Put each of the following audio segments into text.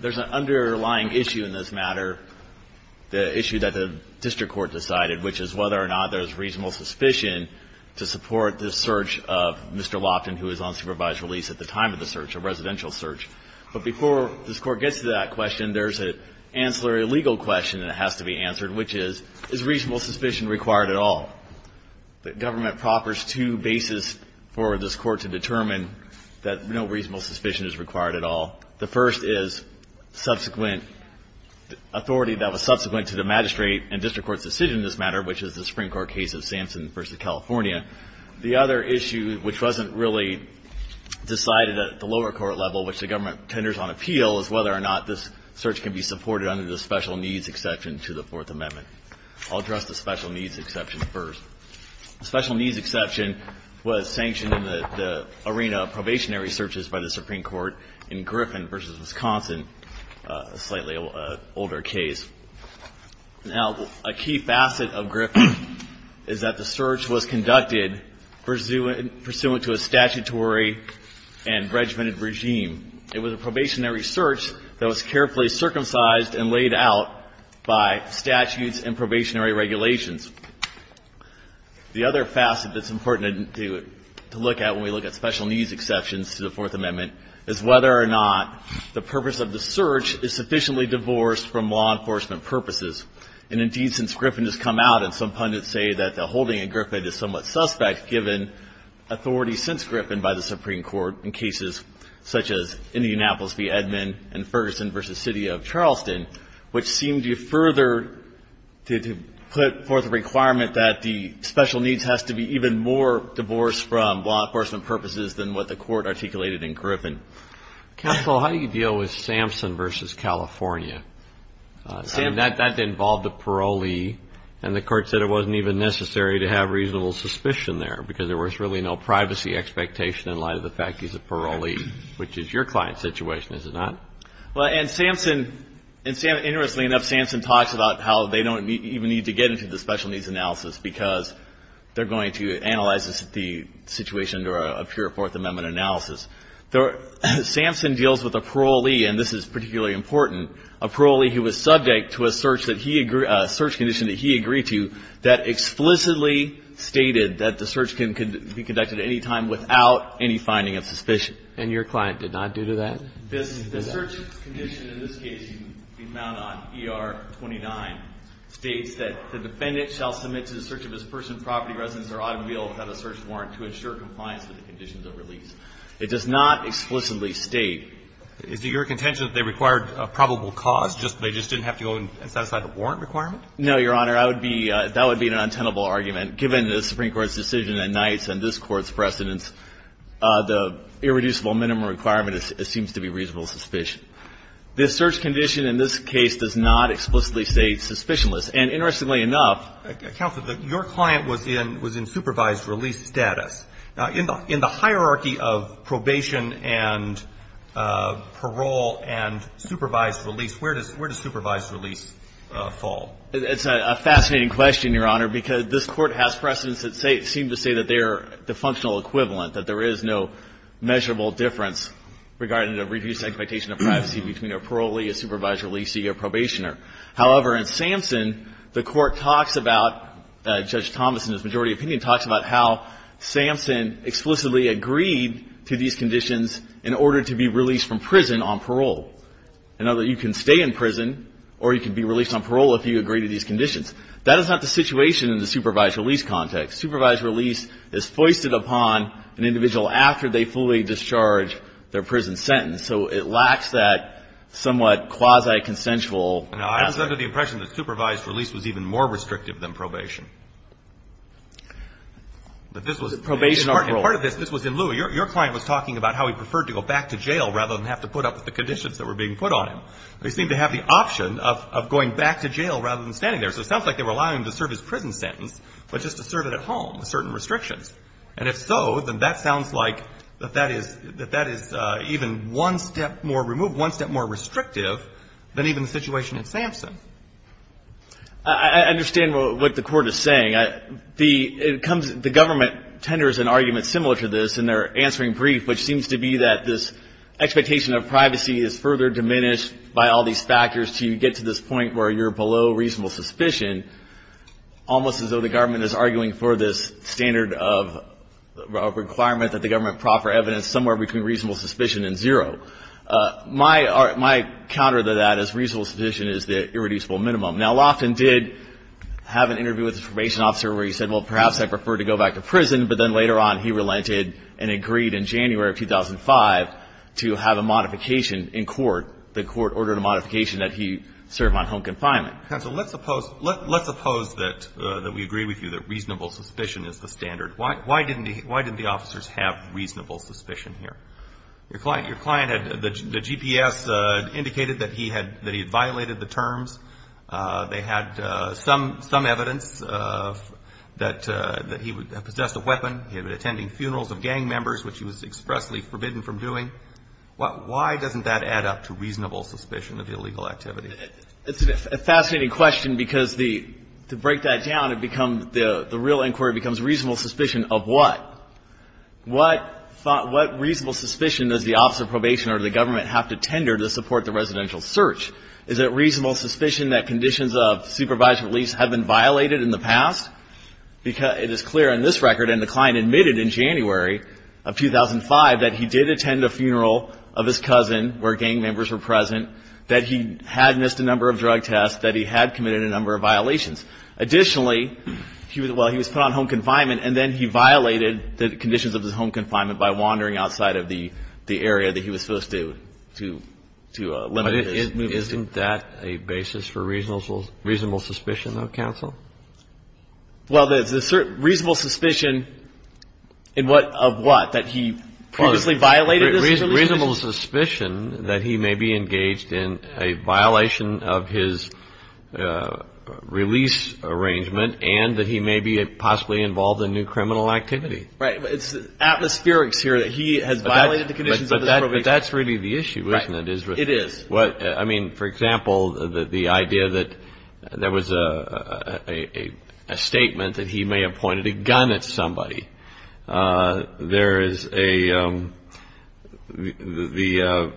There's an underlying issue in this matter, the issue that the district court decided, which is whether or not there's reasonable suspicion to support this search of Mr. Lofton, who is on supervised release at the time of the search, a residential search. But before this Court gets to that question, there's an ancillary legal question that has to be answered, which is, is reasonable suspicion required at all? The government proffers two bases for this Court to determine that no reasonable suspicion is required at all. The first is subsequent authority that was subsequent to the magistrate and district court's decision in this matter, which is the Supreme Court case of Sampson v. California. The other issue, which wasn't really decided at the lower court level, which the government tenders on appeal, is whether or not this search can be supported under the special needs exception to the Fourth Amendment. I'll address the special needs exception first. The special needs exception was sanctioned in the arena of probationary searches by the Supreme Court in Griffin v. Wisconsin, a slightly older case. Now, a key facet of Griffin is that the search was conducted pursuant to a statutory and regimented regime. It was a probationary search that was carefully circumcised and laid out by statutes and probationary regulations. The other facet that's important to look at when we look at special needs exceptions to the Fourth Amendment is whether or not the purpose of the search is sufficiently divorced from law enforcement purposes. And, indeed, since Griffin has come out, and some pundits say that the holding at Griffin is somewhat suspect given authority since Griffin by the Supreme Court has a requirement that the special needs has to be even more divorced from law enforcement purposes than what the court articulated in Griffin. Counsel, how do you deal with Sampson v. California? That involved a parolee. And the court said it wasn't even necessary to have reasonable suspicion there because there was really no privacy expectation in light of the fact he's a parolee, which is your client's situation, is it not? Well, and Sampson, interestingly enough, Sampson talks about how they don't even need to get into the special needs analysis because they're going to analyze the situation under a pure Fourth Amendment analysis. Sampson deals with a parolee, and this is particularly important, a parolee who was subject to a search that he, a search condition that he agreed to that explicitly stated that the search can be conducted at any time without any finding of suspicion. And your client did not do that? The search condition in this case can be found on ER 29. It states that the defendant shall submit to the search of his person, property, residence, or automobile without a search warrant to ensure compliance with the conditions of release. It does not explicitly state. Is it your contention that they required a probable cause, just they just didn't have to go and satisfy the warrant requirement? No, Your Honor. That would be an untenable argument. Given the Supreme Court's decision at nights and this Court's precedence, the irreducible minimum requirement, it seems to be reasonable suspicion. This search condition in this case does not explicitly say suspicionless. And interestingly enough – Counsel, your client was in supervised release status. In the hierarchy of probation and parole and supervised release, where does supervised release fall? It's a fascinating question, Your Honor, because this Court has precedence that seems to say that they are the functional equivalent, that there is no measurable difference regarding the reduced expectation of privacy between a parolee, a supervised releasee, or probationer. However, in Samson, the Court talks about – Judge Thomas, in his majority opinion, talks about how Samson explicitly agreed to these conditions in order to be released from prison on parole. In other words, you can stay in prison or you can be released on parole if you agree to these conditions. That is not the situation in the supervised release context. Supervised release is foisted upon an individual after they fully discharge their prison sentence. So it lacks that somewhat quasi-consensual aspect. Now, I was under the impression that supervised release was even more restrictive than probation. But this was – Probation on parole. And part of this – this was in Lewa. Your client was talking about how he preferred to go back to jail rather than have to put up with the conditions that were being put on him. They seemed to have the option of going back to jail rather than standing there. So it sounds like they were allowing him to serve his prison sentence, but just to serve it at home with certain restrictions. And if so, then that sounds like that that is – that that is even one step more removed, one step more restrictive than even the situation in Samson. I understand what the Court is saying. The – it comes – the government tenders an argument similar to this in their answering brief, which seems to be that this expectation of privacy is further diminished by all these factors until you get to this point where you're below reasonable suspicion, almost as though the government is arguing for this standard of requirement that the government proffer evidence somewhere between reasonable suspicion and zero. My – my counter to that is reasonable suspicion is the irreducible minimum. Now, Loftin did have an interview with the probation officer where he said, well, perhaps I prefer to go back to prison. But then later on he relented and agreed in January of 2005 to have a modification in court. The court ordered a modification that he serve on home confinement. Counsel, let's oppose – let's oppose that – that we agree with you that reasonable suspicion is the standard. Why – why didn't he – why didn't the officers have reasonable suspicion here? Your client – your client had – the GPS indicated that he had – that he had violated the terms. They had some – some evidence that – that he possessed a weapon. He had been attending funerals of gang members, which he was expressly forbidden from doing. Why doesn't that add up to reasonable suspicion of illegal activity? It's a fascinating question because the – to break that down, it becomes – the real inquiry becomes reasonable suspicion of what? What – what reasonable suspicion does the officer of probation or the government have to tender to support the residential search? Is it reasonable suspicion that conditions of supervised release have been violated in the past? It is clear in this record, and the client admitted in January of 2005, that he did attend a funeral of his cousin where gang members were present, that he had missed a number of drug tests, that he had committed a number of violations. Additionally, he was – well, he was put on home confinement, and then he violated the conditions of his home confinement by wandering outside of the – the area that he was supposed to – to – to limit his movement. Isn't that a basis for reasonable – reasonable suspicion, though, counsel? Well, there's a certain – reasonable suspicion in what – of what? That he previously violated his release? Reasonable suspicion that he may be engaged in a violation of his release arrangement and that he may be possibly involved in new criminal activity. Right. But it's atmospherics here that he has violated the conditions of his probation. But that's really the issue, isn't it? Right. It is. What – I mean, for example, the idea that there was a statement that he may have pointed a gun at somebody. There is a – the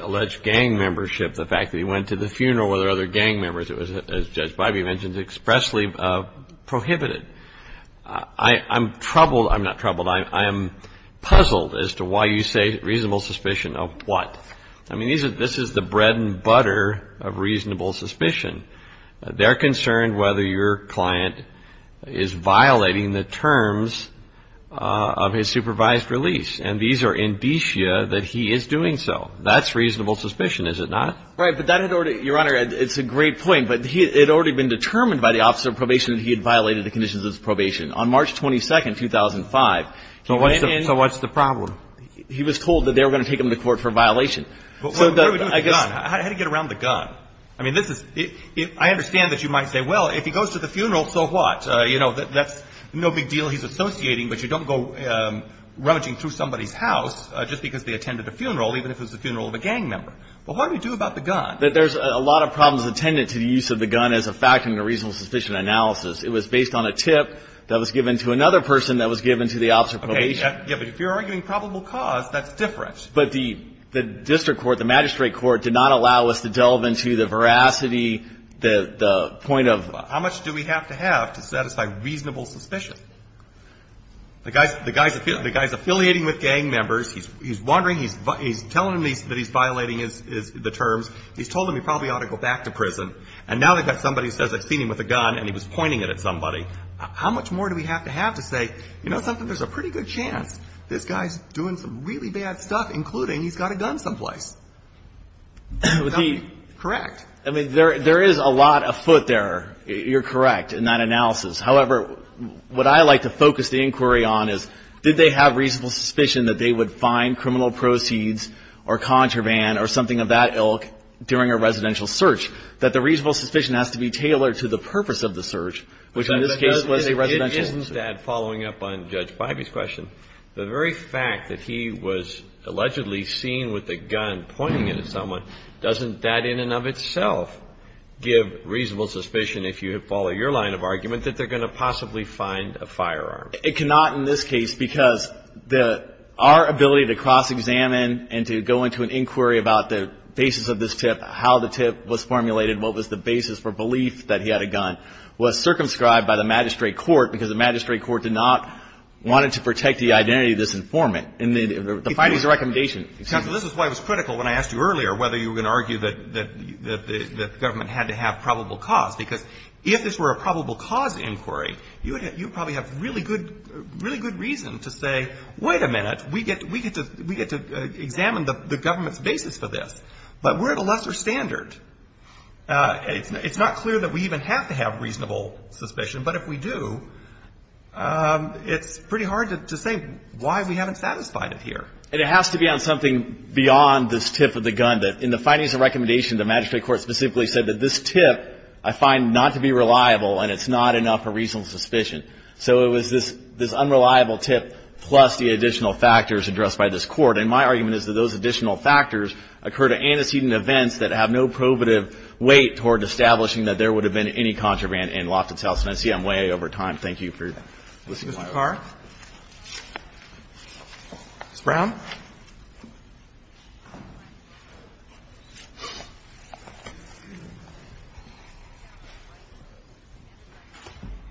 alleged gang membership, the fact that he went to the funeral where there were other gang members, it was, as Judge Bybee mentioned, expressly prohibited. I'm troubled – I'm not troubled. I am puzzled as to why you say reasonable suspicion of what? I mean, these are – this is the bread and butter of reasonable suspicion. They're concerned whether your client is violating the terms of his supervised release. And these are indicia that he is doing so. That's reasonable suspicion, is it not? Right. But that had already – Your Honor, it's a great point. But he – it had already been determined by the officer of probation that he had violated the conditions of his probation. On March 22, 2005, he came in. So what's the problem? He was told that they were going to take him to court for violation. So I guess – But what do we do with the gun? How do you get around the gun? I mean, this is – I understand that you might say, well, if he goes to the funeral, so what? You know, that's no big deal he's associating, but you don't go rummaging through somebody's house just because they attended a funeral, even if it was the funeral of a gang member. But what do you do about the gun? There's a lot of problems attendant to the use of the gun as a fact and a reasonable suspicion analysis. It was based on a tip that was given to another person that was given to the officer of probation. Yeah, but if you're arguing probable cause, that's different. But the district court, the magistrate court did not allow us to delve into the veracity, the point of – How much do we have to have to satisfy reasonable suspicion? The guy's affiliating with gang members. He's wondering. He's telling him that he's violating the terms. He's told him he probably ought to go back to prison. And now they've got somebody who says they've seen him with a gun and he was pointing it at somebody. How much more do we have to have to say, you know something, there's a pretty good chance this guy's doing some really bad stuff, including he's got a gun someplace? Is that correct? I mean, there is a lot afoot there. You're correct in that analysis. However, what I like to focus the inquiry on is did they have reasonable suspicion that they would find criminal proceeds or contraband or something of that ilk during a residential search, that the reasonable suspicion has to be tailored to the purpose of the search, which in this case was a residential search. I would add, following up on Judge Bybee's question, the very fact that he was allegedly seen with a gun pointing it at someone, doesn't that in and of itself give reasonable suspicion, if you follow your line of argument, that they're going to possibly find a firearm? It cannot in this case because our ability to cross-examine and to go into an inquiry about the basis of this tip, how the tip was formulated, what was the basis for belief that he had a gun, was circumscribed by the magistrate court because the magistrate court did not want to protect the identity of this informant. And the findings of the recommendation. Counsel, this is why it was critical when I asked you earlier whether you were going to argue that the government had to have probable cause. Because if this were a probable cause inquiry, you would probably have really good reason to say, wait a minute, we get to examine the government's basis for this. But we're at a lesser standard. It's not clear that we even have to have reasonable suspicion. But if we do, it's pretty hard to say why we haven't satisfied it here. And it has to be on something beyond this tip of the gun. In the findings of the recommendation, the magistrate court specifically said that this tip I find not to be reliable and it's not enough for reasonable suspicion. So it was this unreliable tip plus the additional factors addressed by this court. And my argument is that those additional factors occur to antecedent events that have no probative weight toward establishing that there would have been any contraband in Loftus House. And I see I'm way over time. Thank you for listening to my argument. Mr. Carr. Ms. Brown.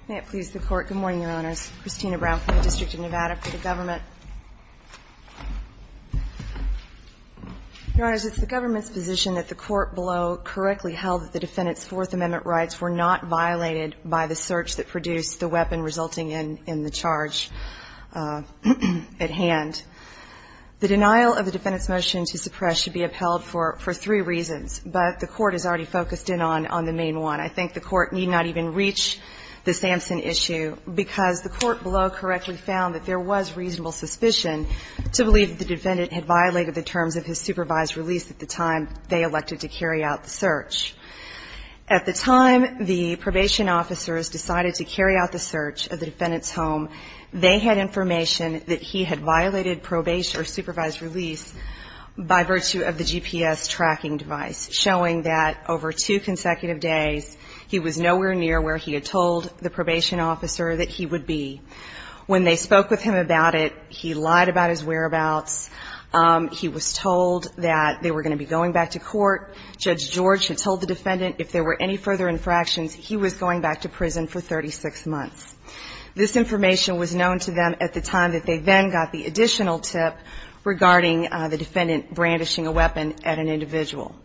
May it please the Court. Good morning, Your Honors. Christina Brown from the District of Nevada for the government. Your Honors, it's the government's position that the court below correctly held that the defendant's Fourth Amendment rights were not violated by the search that produced the weapon resulting in the charge at hand. The denial of the defendant's motion to suppress should be upheld for three reasons, but the court has already focused in on the main one. I think the court need not even reach the Sampson issue because the court below correctly found that there was reasonable suspicion to believe that the defendant had violated the terms of his supervised release at the time they elected to carry out the search. At the time the probation officers decided to carry out the search of the defendant's home, they had information that he had violated probation or supervised release by virtue of the GPS tracking device, showing that over two consecutive days, he was nowhere near where he had told the probation officer that he would be. When they spoke with him about it, he lied about his whereabouts. He was told that they were going to be going back to court. Judge George had told the defendant if there were any further infractions, he was going back to prison for 36 months. This information was known to them at the time that they then got the additional tip regarding the defendant brandishing a weapon at an individual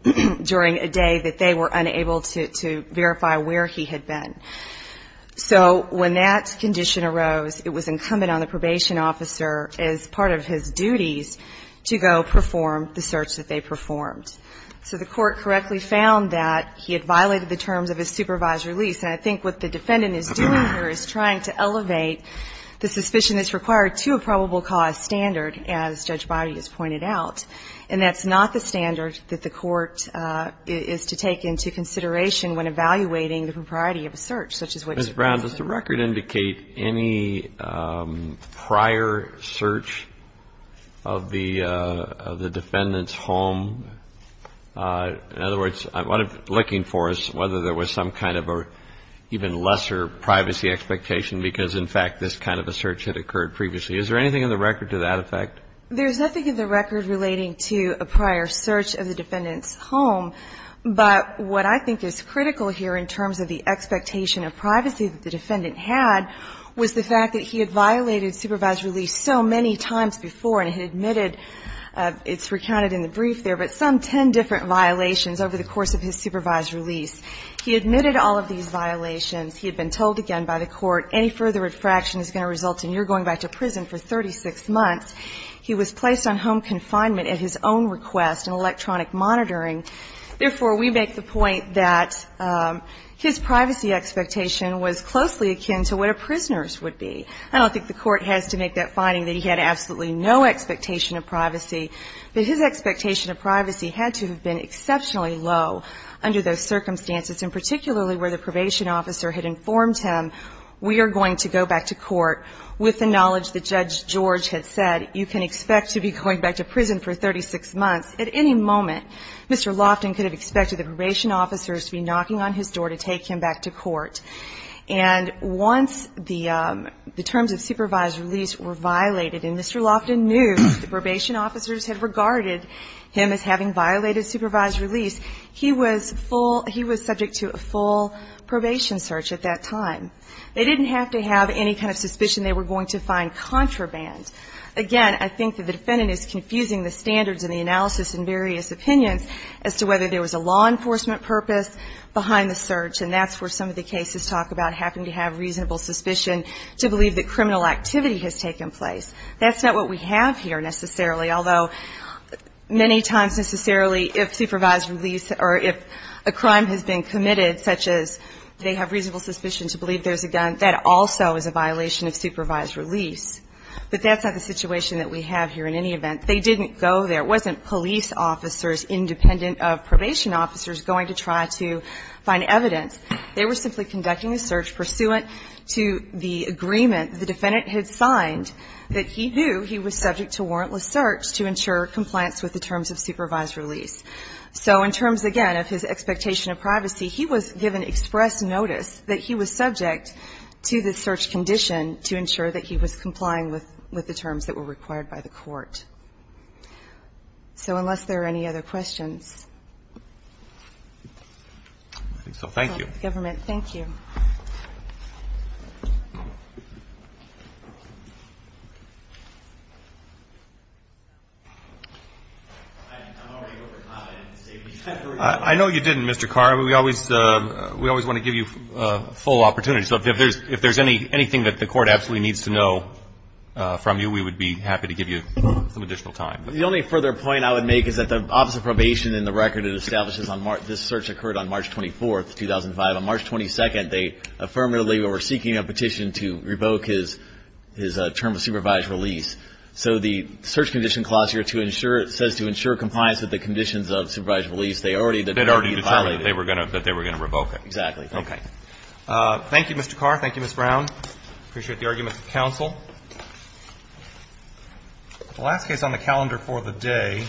during a day that they were unable to verify where he had been. So when that condition arose, it was incumbent on the probation officer, as part of his duties, to go perform the search that they performed. So the court correctly found that he had violated the terms of his supervised release. And I think what the defendant is doing here is trying to elevate the suspicion that's required to a probable cause standard, as Judge Boddy has pointed out. And that's not the standard that the court is to take into consideration when evaluating the propriety of a search, such as what you've presented. Mr. Brown, does the record indicate any prior search of the defendant's home? In other words, what I'm looking for is whether there was some kind of an even lesser privacy expectation because, in fact, this kind of a search had occurred previously. Is there anything in the record to that effect? There's nothing in the record relating to a prior search of the defendant's home. But what I think is critical here in terms of the expectation of privacy that the defendant had was the fact that he had violated supervised release so many times before and had admitted, it's recounted in the brief there, but some ten different violations over the course of his supervised release. He admitted all of these violations. He had been told again by the court, any further infraction is going to result in your going back to prison for 36 months. He was placed on home confinement at his own request in electronic monitoring. Therefore, we make the point that his privacy expectation was closely akin to what a prisoner's would be. I don't think the court has to make that finding that he had absolutely no expectation of privacy, but his expectation of privacy had to have been exceptionally low under those circumstances, and particularly where the probation officer had informed him, we are going to go back to court with the knowledge that Judge George had said you can expect to be going back to prison for 36 months. At any moment, Mr. Loftin could have expected the probation officers to be knocking on his door to take him back to court. And once the terms of supervised release were violated and Mr. Loftin knew the probation officers had regarded him as having violated supervised release, he was subject to a full probation search at that time. They didn't have to have any kind of suspicion they were going to find contraband. Again, I think that the defendant is confusing the standards and the analysis in various opinions as to whether there was a law enforcement purpose behind the search, and that's where some of the cases talk about having to have reasonable suspicion to believe that criminal activity has taken place. That's not what we have here necessarily, although many times necessarily if supervised release or if a crime has been committed, such as they have reasonable suspicion to believe there's a gun, that also is a violation of supervised release. But that's not the situation that we have here in any event. They didn't go there. It wasn't police officers independent of probation officers going to try to find evidence. They were simply conducting a search pursuant to the agreement the defendant had signed that he knew he was subject to warrantless search to ensure compliance with the terms of supervised release. So in terms, again, of his expectation of privacy, he was given express notice that he was subject to the search condition to ensure that he was complying with the terms that were required by the court. So unless there are any other questions. Thank you. I'm already over time. I know you didn't, Mr. Carr. We always want to give you full opportunity. So if there's anything that the Court absolutely needs to know from you, we would be happy to give you some additional time. The only further point I would make is that the Office of Probation, in the record it establishes, this search occurred on March 24th, 2005. It's not the date. It's not the date. It's not the date. It's not the date. The position, as I understand, was that on March 22nd, they affirmatively were seeking a petition to revoke his term of supervised release. So the search condition clause here says to ensure compliance with the conditions of supervised release, they already did that. They already decided that they were going to revoke it. Okay. Thank you, Mr. Carr. Thank you, Ms. Brown. I appreciate the arguments of counsel. The last case on the calendar for the day